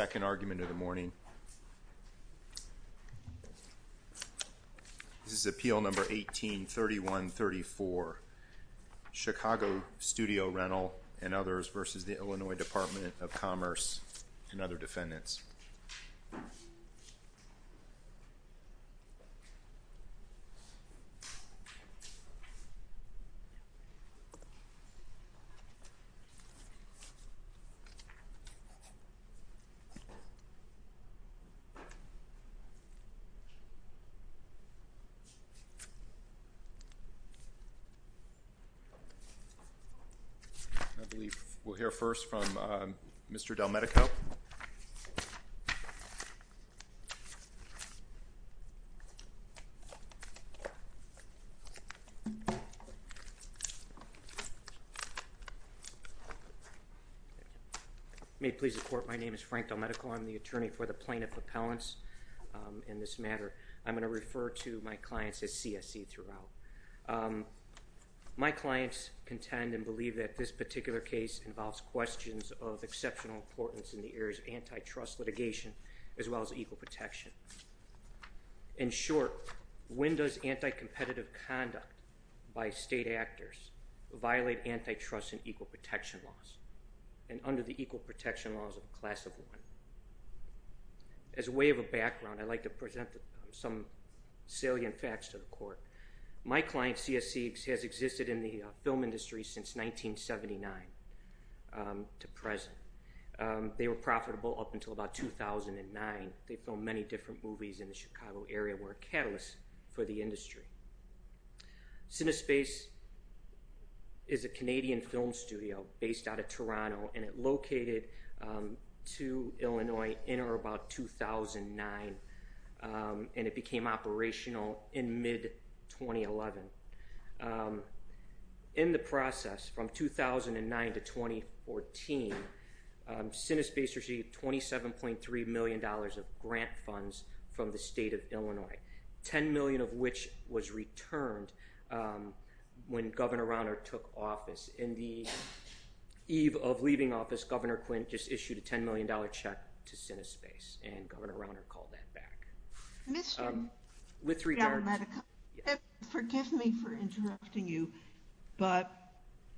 This is appeal number 18-3134, Chicago Studio Rental and others v. the Illinois Department of Commerce and other defendants. I believe we'll hear first from Mr. DelMedico. Mr. DelMedico, may it please the court, my name is Frank DelMedico, I'm the attorney for the plaintiff appellants in this matter. I'm going to refer to my clients as CSE throughout. My clients contend and believe that this particular case involves questions of exceptional importance in the areas of antitrust litigation as well as equal protection. In short, when does anti-competitive conduct by state actors violate antitrust and equal protection laws and under the equal protection laws of the class of one? As a way of a background, I'd like to present some salient facts to the court. My client, CSE, has existed in the film industry since 1979 to present. They were profitable up until about 2009. They filmed many different movies in the Chicago area and were a catalyst for the industry. Cinespace is a Canadian film studio based out of Toronto and it located to Illinois in or about 2009 and it became operational in mid-2011. In the process from 2009 to 2014, Cinespace received $27.3 million of grant funds from the state of Illinois, $10 million of which was returned when Governor Rauner took office. In the eve of leaving office, Governor Quinn just issued a $10 million check to Cinespace and Governor Rauner called that back. Mr. Chairman, forgive me for interrupting you, but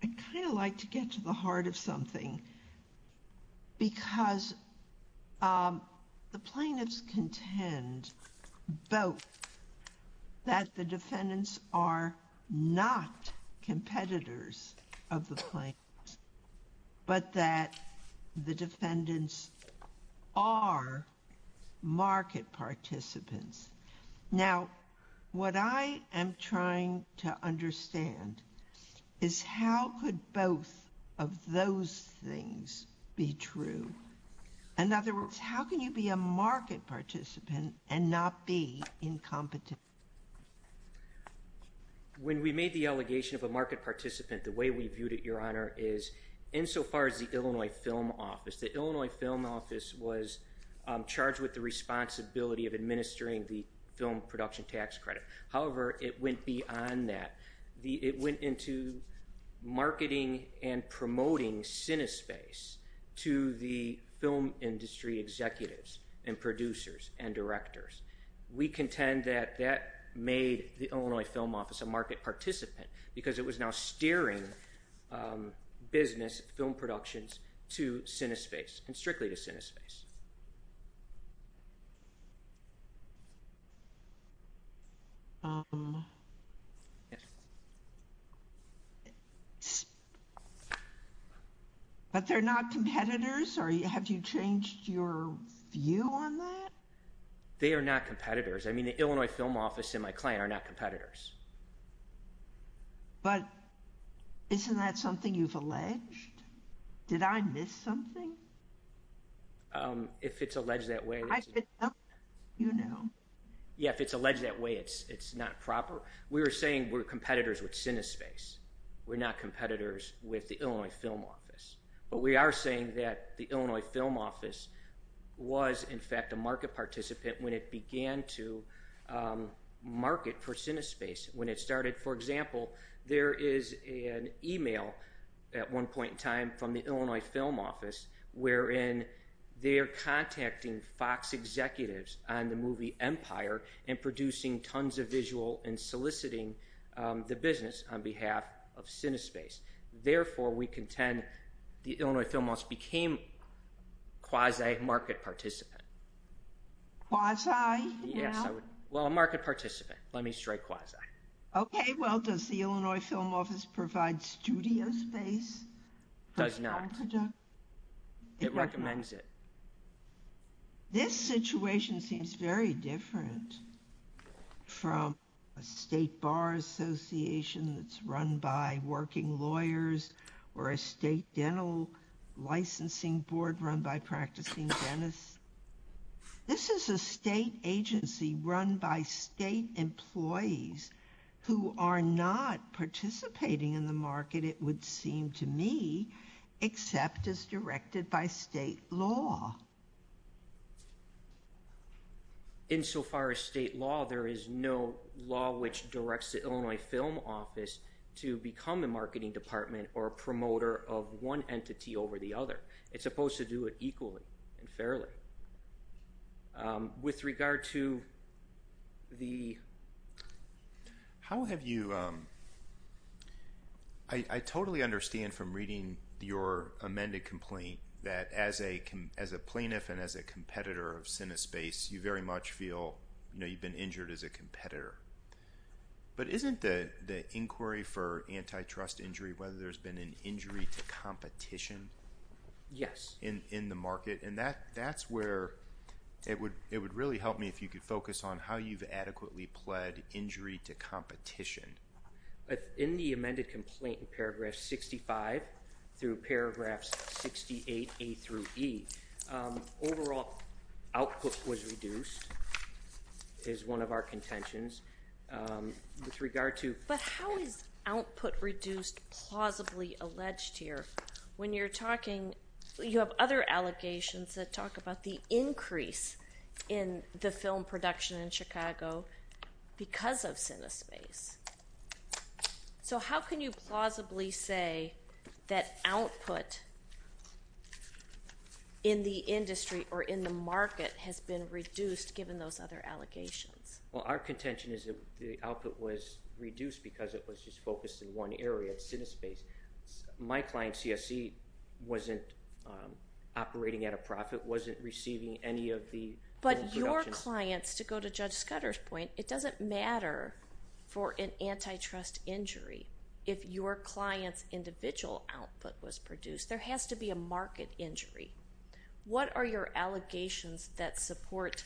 I'd kind of like to get to the heart of something because the plaintiffs contend both that the defendants are not competitors of the plaintiffs, but that the defendants are market participants. Now what I am trying to understand is how could both of those things be true? In other words, how can you be a market participant and not be incompetent? When we made the allegation of a market participant, the way we viewed it, Your Honor, is insofar as the Illinois Film Office. The Illinois Film Office was charged with the responsibility of administering the film production tax credit. However, it went beyond that. It went into marketing and promoting Cinespace to the film industry executives and producers and directors. We contend that that made the Illinois Film Office a market participant because it was now steering business, film productions, to Cinespace and strictly to Cinespace. But they're not competitors? Have you changed your view on that? They are not competitors. I mean, the Illinois Film Office and my client are not competitors. But isn't that something you've alleged? Did I miss something? If it's alleged that way, it's not proper. We were saying we're competitors with Cinespace. We're not competitors with the Illinois Film Office, but we are saying that the Illinois Film Office was a market participant when it began to market for Cinespace. When it started, for example, there is an email at one point in time from the Illinois Film Office wherein they're contacting Fox executives on the movie Empire and producing tons of visual and soliciting the business on behalf of Cinespace. Therefore, we contend the Illinois Film Office became quasi-market participant. Quasi? Yes, I would—well, a market participant. Let me strike quasi. Okay. Well, does the Illinois Film Office provide studio space for its contradictors? It does not. It recommends it. This situation seems very different from a state bar association that's run by working lawyers or a state dental licensing board run by practicing dentists. This is a state agency run by state employees who are not participating in the market, it would seem to me, except as directed by state law. In so far as state law, there is no law which directs the Illinois Film Office to become a marketing department or a promoter of one entity over the other. It's supposed to do it equally and fairly. With regard to the— How have you—I totally understand from reading your amended complaint that as a plaintiff and as a competitor of Cinespace, you very much feel you've been injured as a competitor. But isn't the inquiry for antitrust injury, whether there's been an injury to competition in the market? Yes. And that's where it would really help me if you could focus on how you've adequately pled injury to competition. In the amended complaint in paragraph 65 through paragraphs 68A through E, overall output was reduced, is one of our contentions. With regard to— But how is output reduced plausibly alleged here? When you're talking—you have other allegations that talk about the increase in the film production in Chicago because of Cinespace. So how can you plausibly say that output in the industry or in the market has been reduced given those other allegations? Well, our contention is that the output was reduced because it was just focused in one area, Cinespace. My client, CSE, wasn't operating at a profit, wasn't receiving any of the film production. But your clients, to go to Judge Scudder's point, it doesn't matter for an antitrust injury. If your client's individual output was produced, there has to be a market injury. What are your allegations that support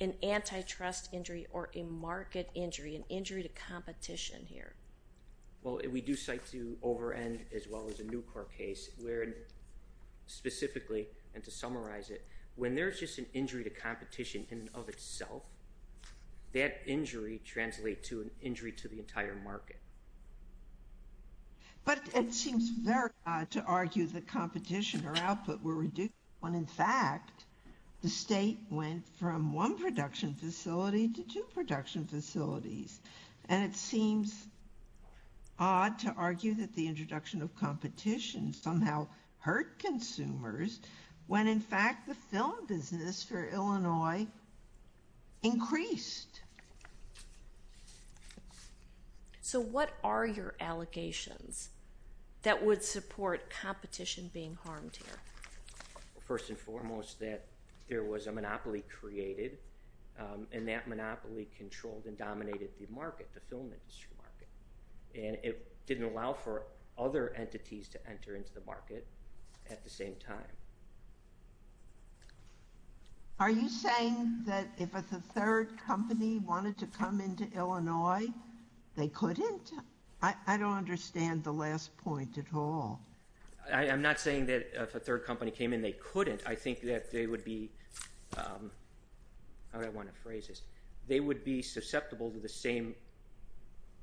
an antitrust injury or a market injury, an injury to competition here? Well, we do cite to over-end as well as a new court case where, specifically, and to competition in and of itself, that injury translates to an injury to the entire market. But it seems very odd to argue that competition or output were reduced when, in fact, the state went from one production facility to two production facilities. And it seems odd to argue that the introduction of competition somehow hurt consumers when, in fact, the film business for Illinois increased. So what are your allegations that would support competition being harmed here? First and foremost, that there was a monopoly created, and that monopoly controlled and dominated the market, the film industry market. And it didn't allow for other entities to enter into the market at the same time. Are you saying that if a third company wanted to come into Illinois, they couldn't? I don't understand the last point at all. I'm not saying that if a third company came in, they couldn't. I think that they would be, how would I want to phrase this? They would be susceptible to the same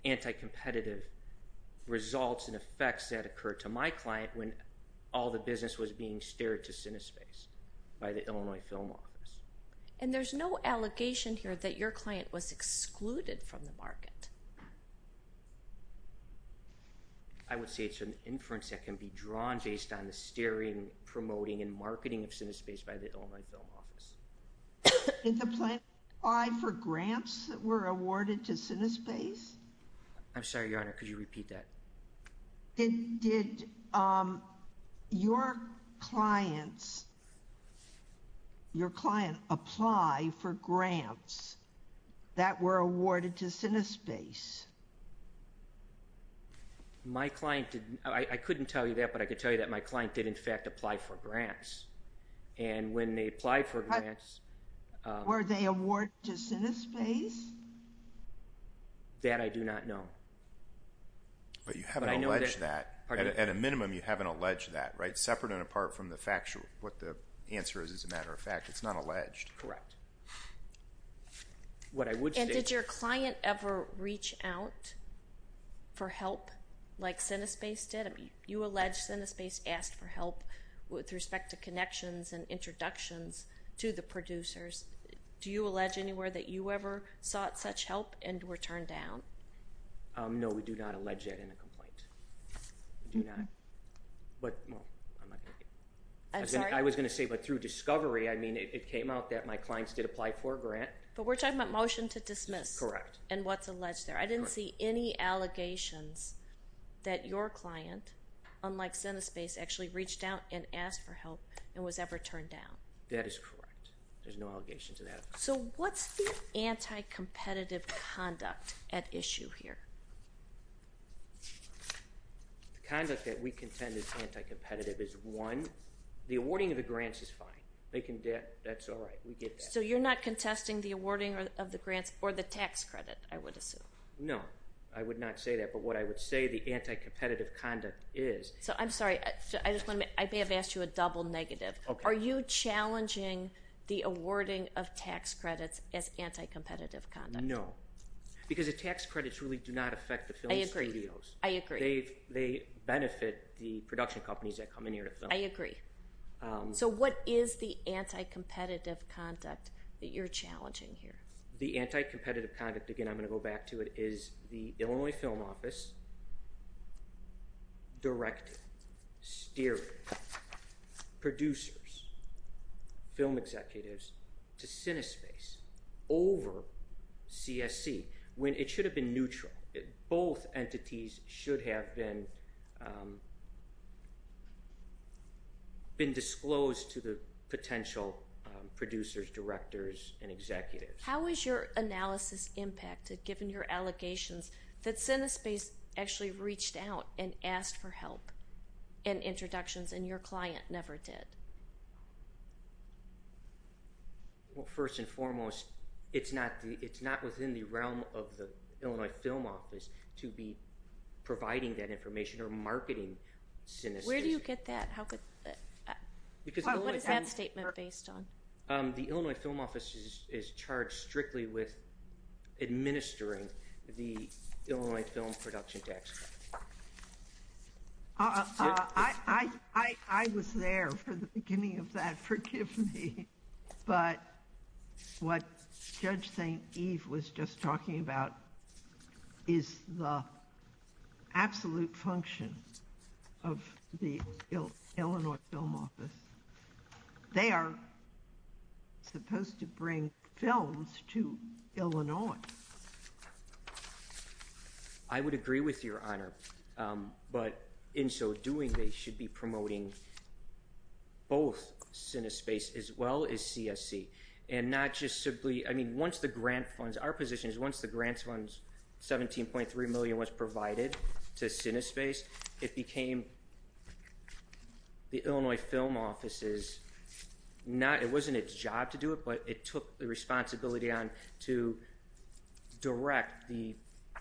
anti-competitive results and effects that occurred to my client when all the business was being steered to Cinespace by the Illinois Film Office. And there's no allegation here that your client was excluded from the market? I would say it's an inference that can be drawn based on the steering, promoting, and marketing of Cinespace by the Illinois Film Office. Did the plan apply for grants that were awarded to Cinespace? I'm sorry, Your Honor, could you repeat that? Did your clients, your client apply for grants that were awarded to Cinespace? My client did, I couldn't tell you that, but I could tell you that my client did in fact apply for grants. And when they applied for grants... Were they awarded to Cinespace? That I do not know. But you haven't alleged that, at a minimum you haven't alleged that, right? Separate and apart from the factual, what the answer is, as a matter of fact, it's not alleged. Correct. And did your client ever reach out for help like Cinespace did? You allege Cinespace asked for help with respect to connections and introductions to the producers. Do you allege anywhere that you ever sought such help and were turned down? No, we do not allege that in a complaint. We do not. But, well, I'm not going to... I'm sorry? I was going to say, but through discovery, I mean, it came out that my clients did apply for a grant. But we're talking about motion to dismiss. Correct. And what's alleged there. I didn't see any allegations that your client, unlike Cinespace, actually reached out and asked for help and was ever turned down. That is correct. There's no allegations of that. So what's the anti-competitive conduct at issue here? The conduct that we contend is anti-competitive is, one, the awarding of the grants is fine. They can... That's all right. We get that. So you're not contesting the awarding of the grants or the tax credit, I would assume. No, I would not say that. But what I would say, the anti-competitive conduct is... So I'm sorry. I just want to make... I may have asked you a double negative. Are you challenging the awarding of tax credits as anti-competitive conduct? No. Because the tax credits really do not affect the film studios. I agree. They benefit the production companies that come in here to film. I agree. So what is the anti-competitive conduct that you're challenging here? The anti-competitive conduct, again, I'm going to go back to it, is the Illinois Film Office directing, steering producers, film executives to cine space over CSC when it should have been neutral. Both entities should have been disclosed to the potential producers, directors, and executives. How has your analysis impacted, given your allegations, that cine space actually reached out and asked for help and introductions and your client never did? Well, first and foremost, it's not within the realm of the Illinois Film Office to be providing that information or marketing cine space. Where do you get that? How could... Because Illinois... What is that statement based on? The Illinois Film Office is charged strictly with administering the Illinois Film Production Tax Credit. I was there for the beginning of that, forgive me, but what Judge St. Eve was just talking about is the absolute function of the Illinois Film Office. They are supposed to bring films to Illinois. I would agree with your honor, but in so doing, they should be promoting both cine space as well as CSC. And not just simply... I mean, once the grant funds... Our position is once the grant funds, $17.3 million was provided to cine space, it became... The Illinois Film Office is not... It's not my responsibility to direct the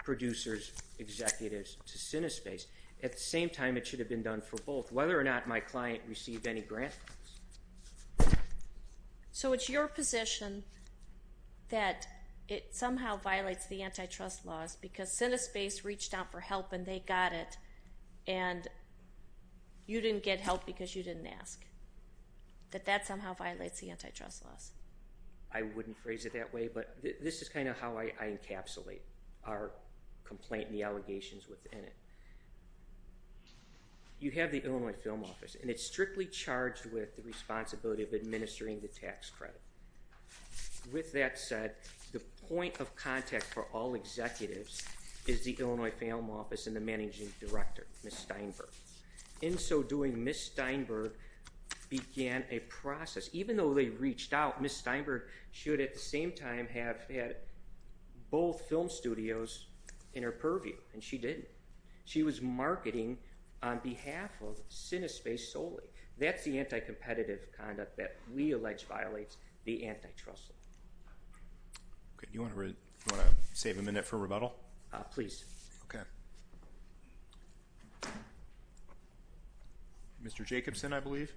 producer's executives to cine space. At the same time, it should have been done for both, whether or not my client received any grant funds. So it's your position that it somehow violates the antitrust laws because cine space reached out for help and they got it and you didn't get help because you didn't ask, that that somehow violates the antitrust laws? I wouldn't phrase it that way, but this is kind of how I encapsulate our complaint and the allegations within it. You have the Illinois Film Office and it's strictly charged with the responsibility of administering the tax credit. With that said, the point of contact for all executives is the Illinois Film Office and the managing director, Ms. Steinberg. In so doing, Ms. Steinberg began a process, even though they reached out, Ms. Steinberg should at the same time have had both film studios in her purview and she didn't. She was marketing on behalf of cine space solely. That's the anti-competitive conduct that we allege violates the antitrust law. Okay. Do you want to save a minute for rebuttal? Please. Okay. Mr. Jacobson, I believe.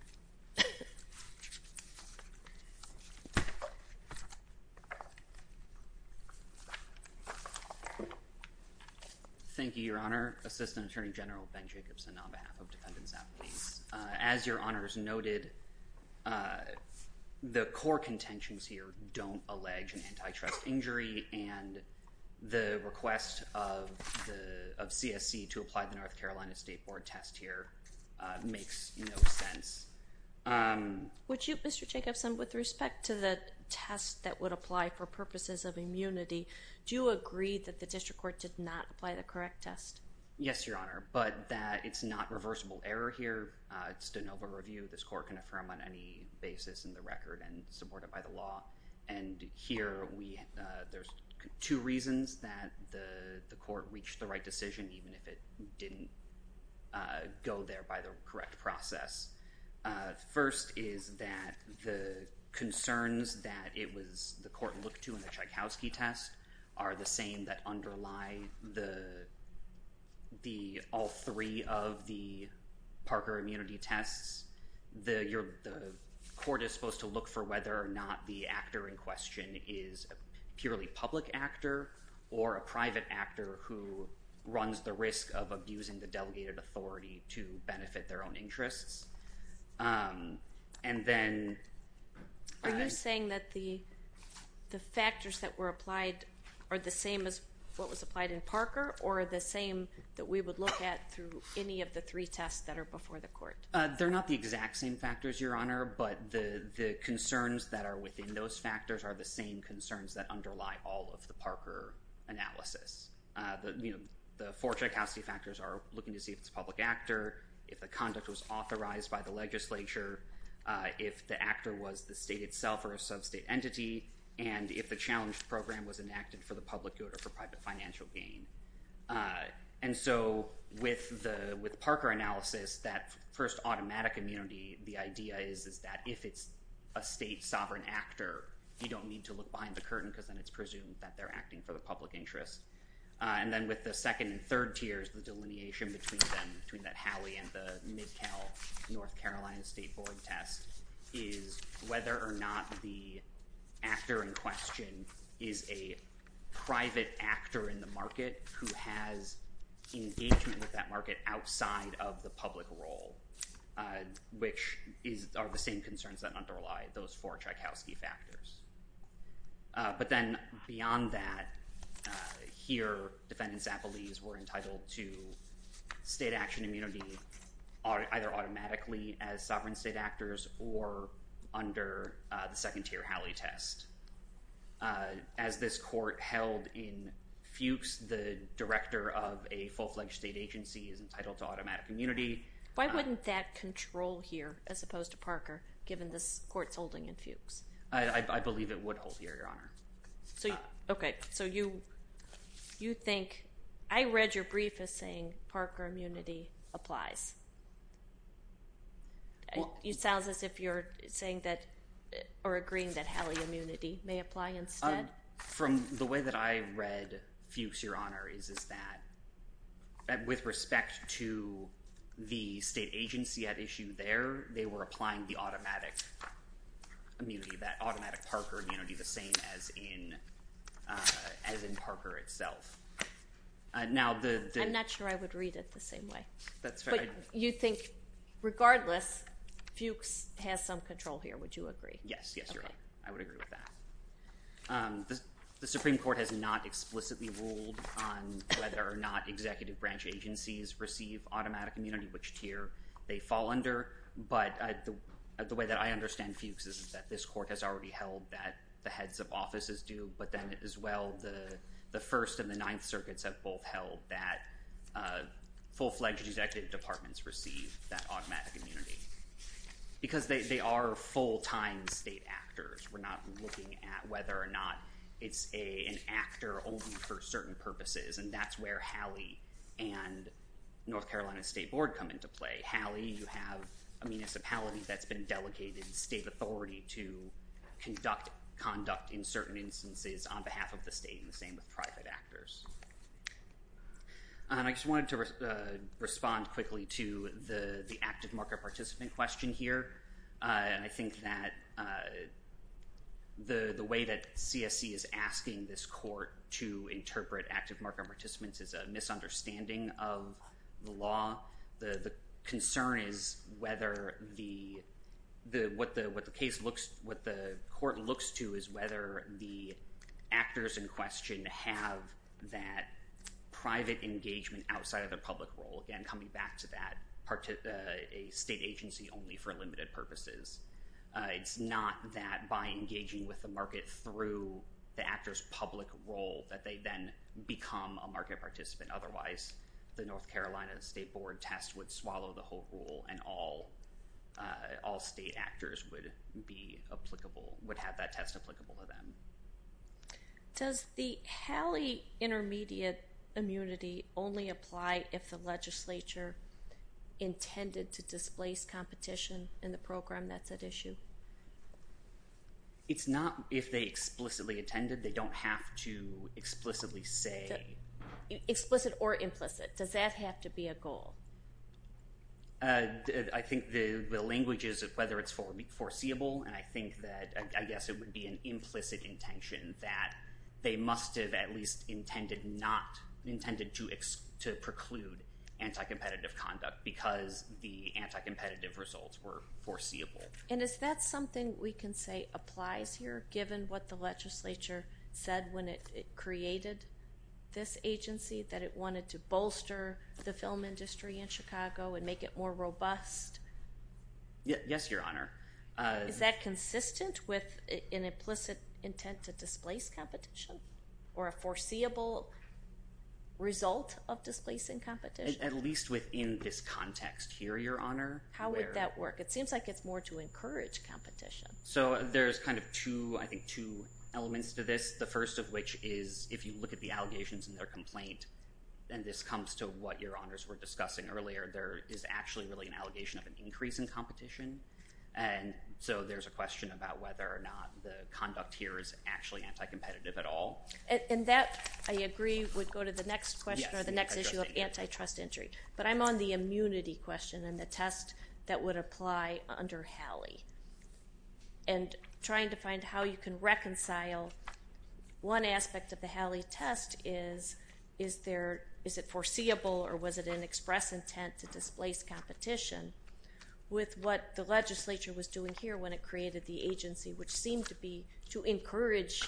Thank you, Your Honor. Assistant Attorney General Ben Jacobson on behalf of Defendants Advocates. As Your Honors noted, the core contentions here don't allege an antitrust injury and the request of CSC to apply the North Carolina State Board test here makes no sense. Would you, Mr. Jacobson, with respect to the test that would apply for purposes of immunity, do you agree that the district court did not apply the correct test? Yes, Your Honor, but that it's not reversible error here. It's just a noble review. This court can affirm on any basis in the record and support it by the law and here there's two reasons that the court reached the right decision even if it didn't go there by the correct process. First is that the concerns that the court looked to in the Tchaikovsky test are the same that underlie all three of the Parker immunity tests. The court is supposed to look for whether or not the actor in question is a purely public actor or a private actor who runs the risk of abusing the delegated authority to benefit their own interests. And then... Are you saying that the factors that were applied are the same as what was applied in Parker or the same that we would look at through any of the three tests that are before the court? They're not the exact same factors, Your Honor, but the concerns that are within those factors are the same concerns that underlie all of the Parker analysis. The four Tchaikovsky factors are looking to see if it's a public actor, if the conduct was authorized by the legislature, if the actor was the state itself or a sub-state entity, and if the challenge program was enacted for the public good or for private financial gain. And so, with Parker analysis, that first automatic immunity, the idea is that if it's a state sovereign actor, you don't need to look behind the curtain because then it's presumed that they're acting for the public interest. And then with the second and third tiers, the delineation between them, between that Howey and the Mid-Cal North Carolina State Board test, is whether or not the actor in the market who has engagement with that market outside of the public role, which are the same concerns that underlie those four Tchaikovsky factors. But then beyond that, here, defendants at Belize were entitled to state action immunity either automatically as sovereign state actors or under the second tier Howey test. As this court held in Fuchs, the director of a full-fledged state agency is entitled to automatic immunity. Why wouldn't that control here, as opposed to Parker, given this court's holding in Fuchs? I believe it would hold here, Your Honor. Okay. So you think, I read your brief as saying Parker immunity applies. It sounds as if you're saying that, or agreeing that Howey immunity may apply instead. From the way that I read Fuchs, Your Honor, is that with respect to the state agency at issue there, they were applying the automatic immunity, that automatic Parker immunity, the same as in Parker itself. Now the- I'm not sure I would read it the same way. But you think, regardless, Fuchs has some control here, would you agree? Yes. Yes, Your Honor. I would agree with that. The Supreme Court has not explicitly ruled on whether or not executive branch agencies receive automatic immunity, which tier they fall under. But the way that I understand Fuchs is that this court has already held that the heads of offices do, but then as well, the First and the Ninth Circuits have both held that full-fledged executive departments receive that automatic immunity. Because they are full-time state actors, we're not looking at whether or not it's an actor only for certain purposes, and that's where Howey and North Carolina State Board come into play. Howey, you have a municipality that's been delegated state authority to conduct conduct in certain instances on behalf of the state, and the same with private actors. I just wanted to respond quickly to the active market participant question here. I think that the way that CSC is asking this court to interpret active market participants is a misunderstanding of the law. The concern is whether the—what the case looks—what the court looks to is whether the actors in question have that private engagement outside of the public role, again, coming back to that state agency only for limited purposes. It's not that by engaging with the market through the actor's public role that they then become a market participant. Otherwise, the North Carolina State Board test would swallow the whole pool, and all Does the Howey intermediate immunity only apply if the legislature intended to displace competition in the program that's at issue? It's not if they explicitly intended. They don't have to explicitly say— Explicit or implicit. Does that have to be a goal? I think the language is whether it's foreseeable, and I think that, I guess, it would be an intention that they must have at least intended not—intended to preclude anti-competitive conduct because the anti-competitive results were foreseeable. And is that something we can say applies here, given what the legislature said when it created this agency, that it wanted to bolster the film industry in Chicago and make it more robust? Yes, Your Honor. Is that consistent with an implicit intent to displace competition or a foreseeable result of displacing competition? At least within this context here, Your Honor. How would that work? It seems like it's more to encourage competition. So there's kind of two, I think, two elements to this, the first of which is if you look at the allegations in their complaint, and this comes to what Your Honors were discussing earlier, there is actually really an allegation of an increase in competition. And so there's a question about whether or not the conduct here is actually anti-competitive at all. And that, I agree, would go to the next question or the next issue of antitrust entry. But I'm on the immunity question and the test that would apply under Halley. And trying to find how you can reconcile one aspect of the Halley test is, is there—is it foreseeable or was it an express intent to displace competition with what the legislature was doing here when it created the agency, which seemed to be to encourage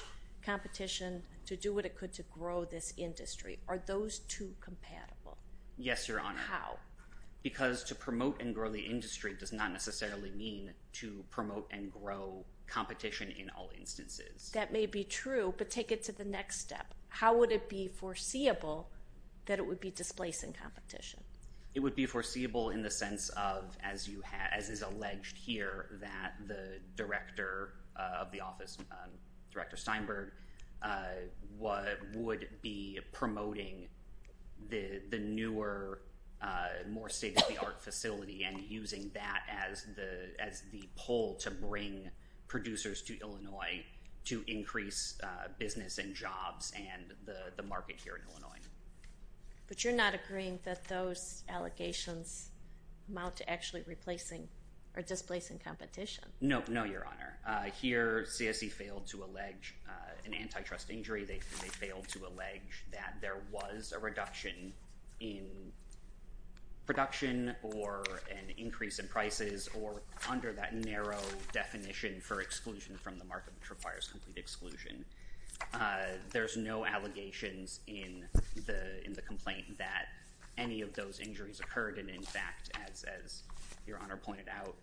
competition to do what it could to grow this industry? Are those two compatible? Yes, Your Honor. How? Because to promote and grow the industry does not necessarily mean to promote and grow competition in all instances. That may be true, but take it to the next step. How would it be foreseeable that it would be displacing competition? It would be foreseeable in the sense of, as you have—as is alleged here, that the director of the office, Director Steinberg, would be promoting the newer, more state-of-the-art facility and using that as the pull to bring producers to Illinois to increase business and jobs and the market here in Illinois. But you're not agreeing that those allegations amount to actually replacing or displacing competition? No, no, Your Honor. Here CSE failed to allege an antitrust injury. They failed to allege that there was a reduction in production or an increase in prices or under that narrow definition for exclusion from the market, which requires complete exclusion. There's no allegations in the complaint that any of those injuries occurred, and in fact, as Your Honor pointed out,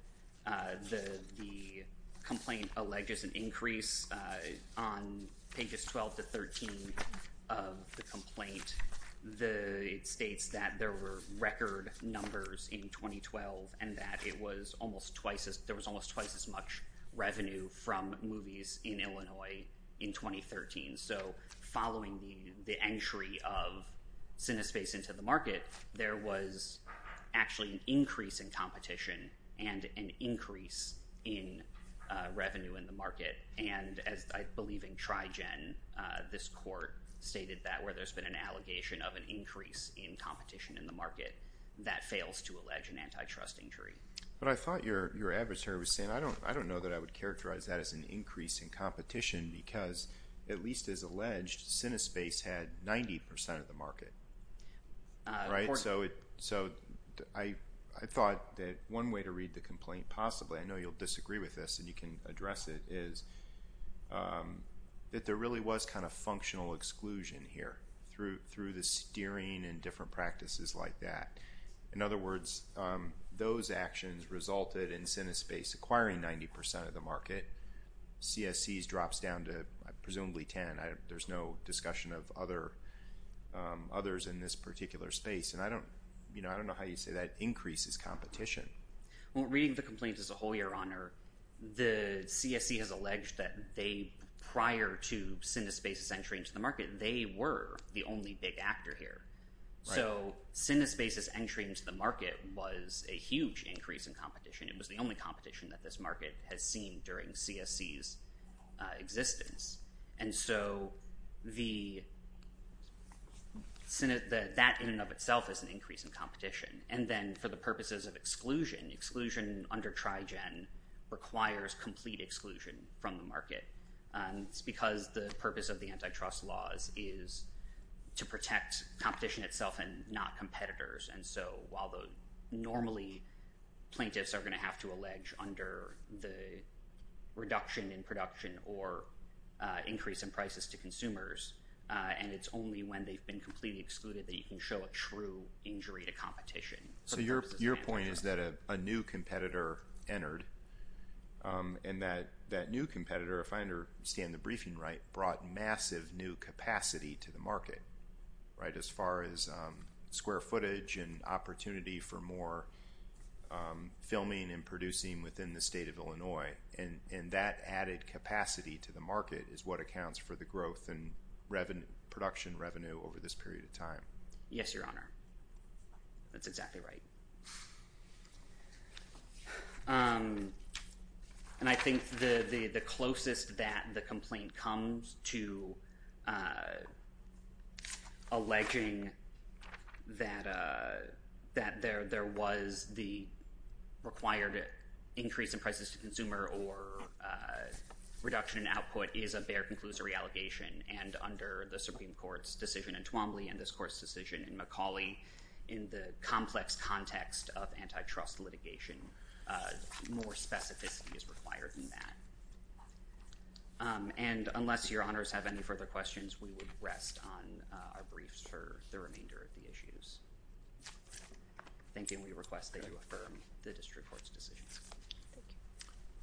the complaint alleges an increase on pages 12 to 13 of the complaint. It states that there were record numbers in 2012 and that there was almost twice as much revenue from movies in Illinois in 2013. So following the entry of Cinespace into the market, there was actually an increase in competition and an increase in revenue in the market. And as I believe in Trigen, this court stated that where there's been an allegation of an increase in competition in the market, that fails to allege an antitrust injury. But I thought your adversary was saying, I don't know that I would characterize that as an increase in competition because at least as alleged, Cinespace had 90% of the market. So I thought that one way to read the complaint possibly, I know you'll disagree with this and you can address it, is that there really was kind of functional exclusion here through the steering and different practices like that. In other words, those actions resulted in Cinespace acquiring 90% of the market. CSC's drops down to presumably 10. There's no discussion of others in this particular space. And I don't know how you say that increases competition. Reading the complaints as a whole, your honor, the CSC has alleged that they, prior to Cinespace's entry into the market, they were the only big actor here. So Cinespace's entry into the market was a huge increase in competition. It was the only competition that this market has seen during CSC's existence. And so that in and of itself is an increase in competition. And then for the purposes of exclusion, exclusion under Trigen requires complete exclusion from the market because the purpose of the antitrust laws is to protect competition itself and not competitors. And so while normally plaintiffs are going to have to allege under the reduction in production or increase in prices to consumers, and it's only when they've been completely excluded that you can show a true injury to competition. So your point is that a new competitor entered and that new competitor, if I understand the briefing right, brought massive new capacity to the market, right, as far as square footage and opportunity for more filming and producing within the state of Illinois. And that added capacity to the market is what accounts for the growth and production revenue over this period of time. Yes, Your Honor, that's exactly right. And I think the closest that the complaint comes to alleging that there was the required increase in prices to consumer or reduction in output is a bare conclusory allegation. And under the Supreme Court's decision in Twombly and this court's decision in McCauley, in the complex context of antitrust litigation, more specificity is required in that. And unless Your Honors have any further questions, we would rest on our briefs for the remainder of the issues. Thank you, and we request that you affirm the district court's decision.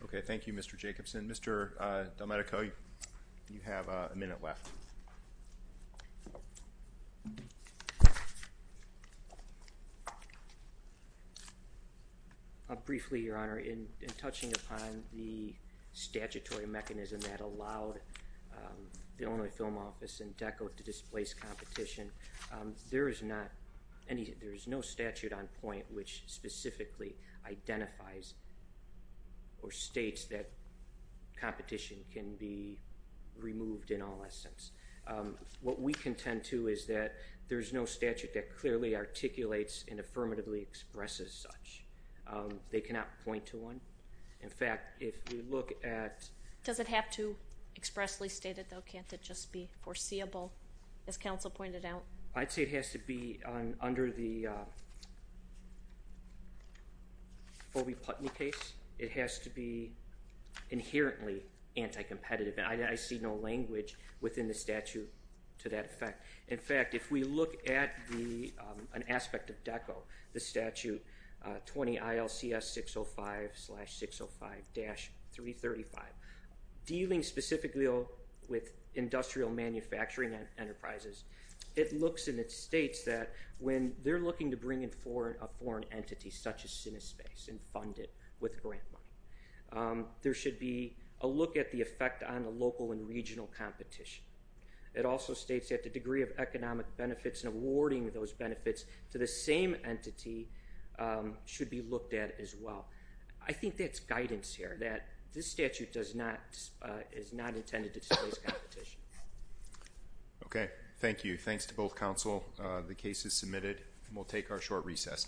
Okay, thank you, Mr. Jacobson. Mr. DelMedico, you have a minute left. Briefly, Your Honor, in touching upon the statutory mechanism that allowed the Illinois Film Office and DECO to displace competition, there is no statute on point which specifically identifies or states that competition can be removed in all essence. What we contend to is that there's no statute that clearly articulates and affirmatively expresses such. They cannot point to one. In fact, if we look at— Does it have to expressly state it, though? Can't it just be foreseeable, as counsel pointed out? I'd say it has to be under the Fobey-Putney case. It has to be inherently anti-competitive, and I see no language within the statute to that effect. In fact, if we look at an aspect of DECO, the statute, 20 ILCS 605-605-335, dealing specifically with industrial manufacturing enterprises, it looks and it states that when they're looking to bring in a foreign entity such as Cinespace and fund it with grant money, there should be a look at the effect on the local and regional competition. It also states that the degree of economic benefits and awarding those benefits to the same entity should be looked at as well. I think that's guidance here, that this statute is not intended to displace competition. Okay. Thank you. Thanks to both counsel. The case is submitted, and we'll take our short recess now.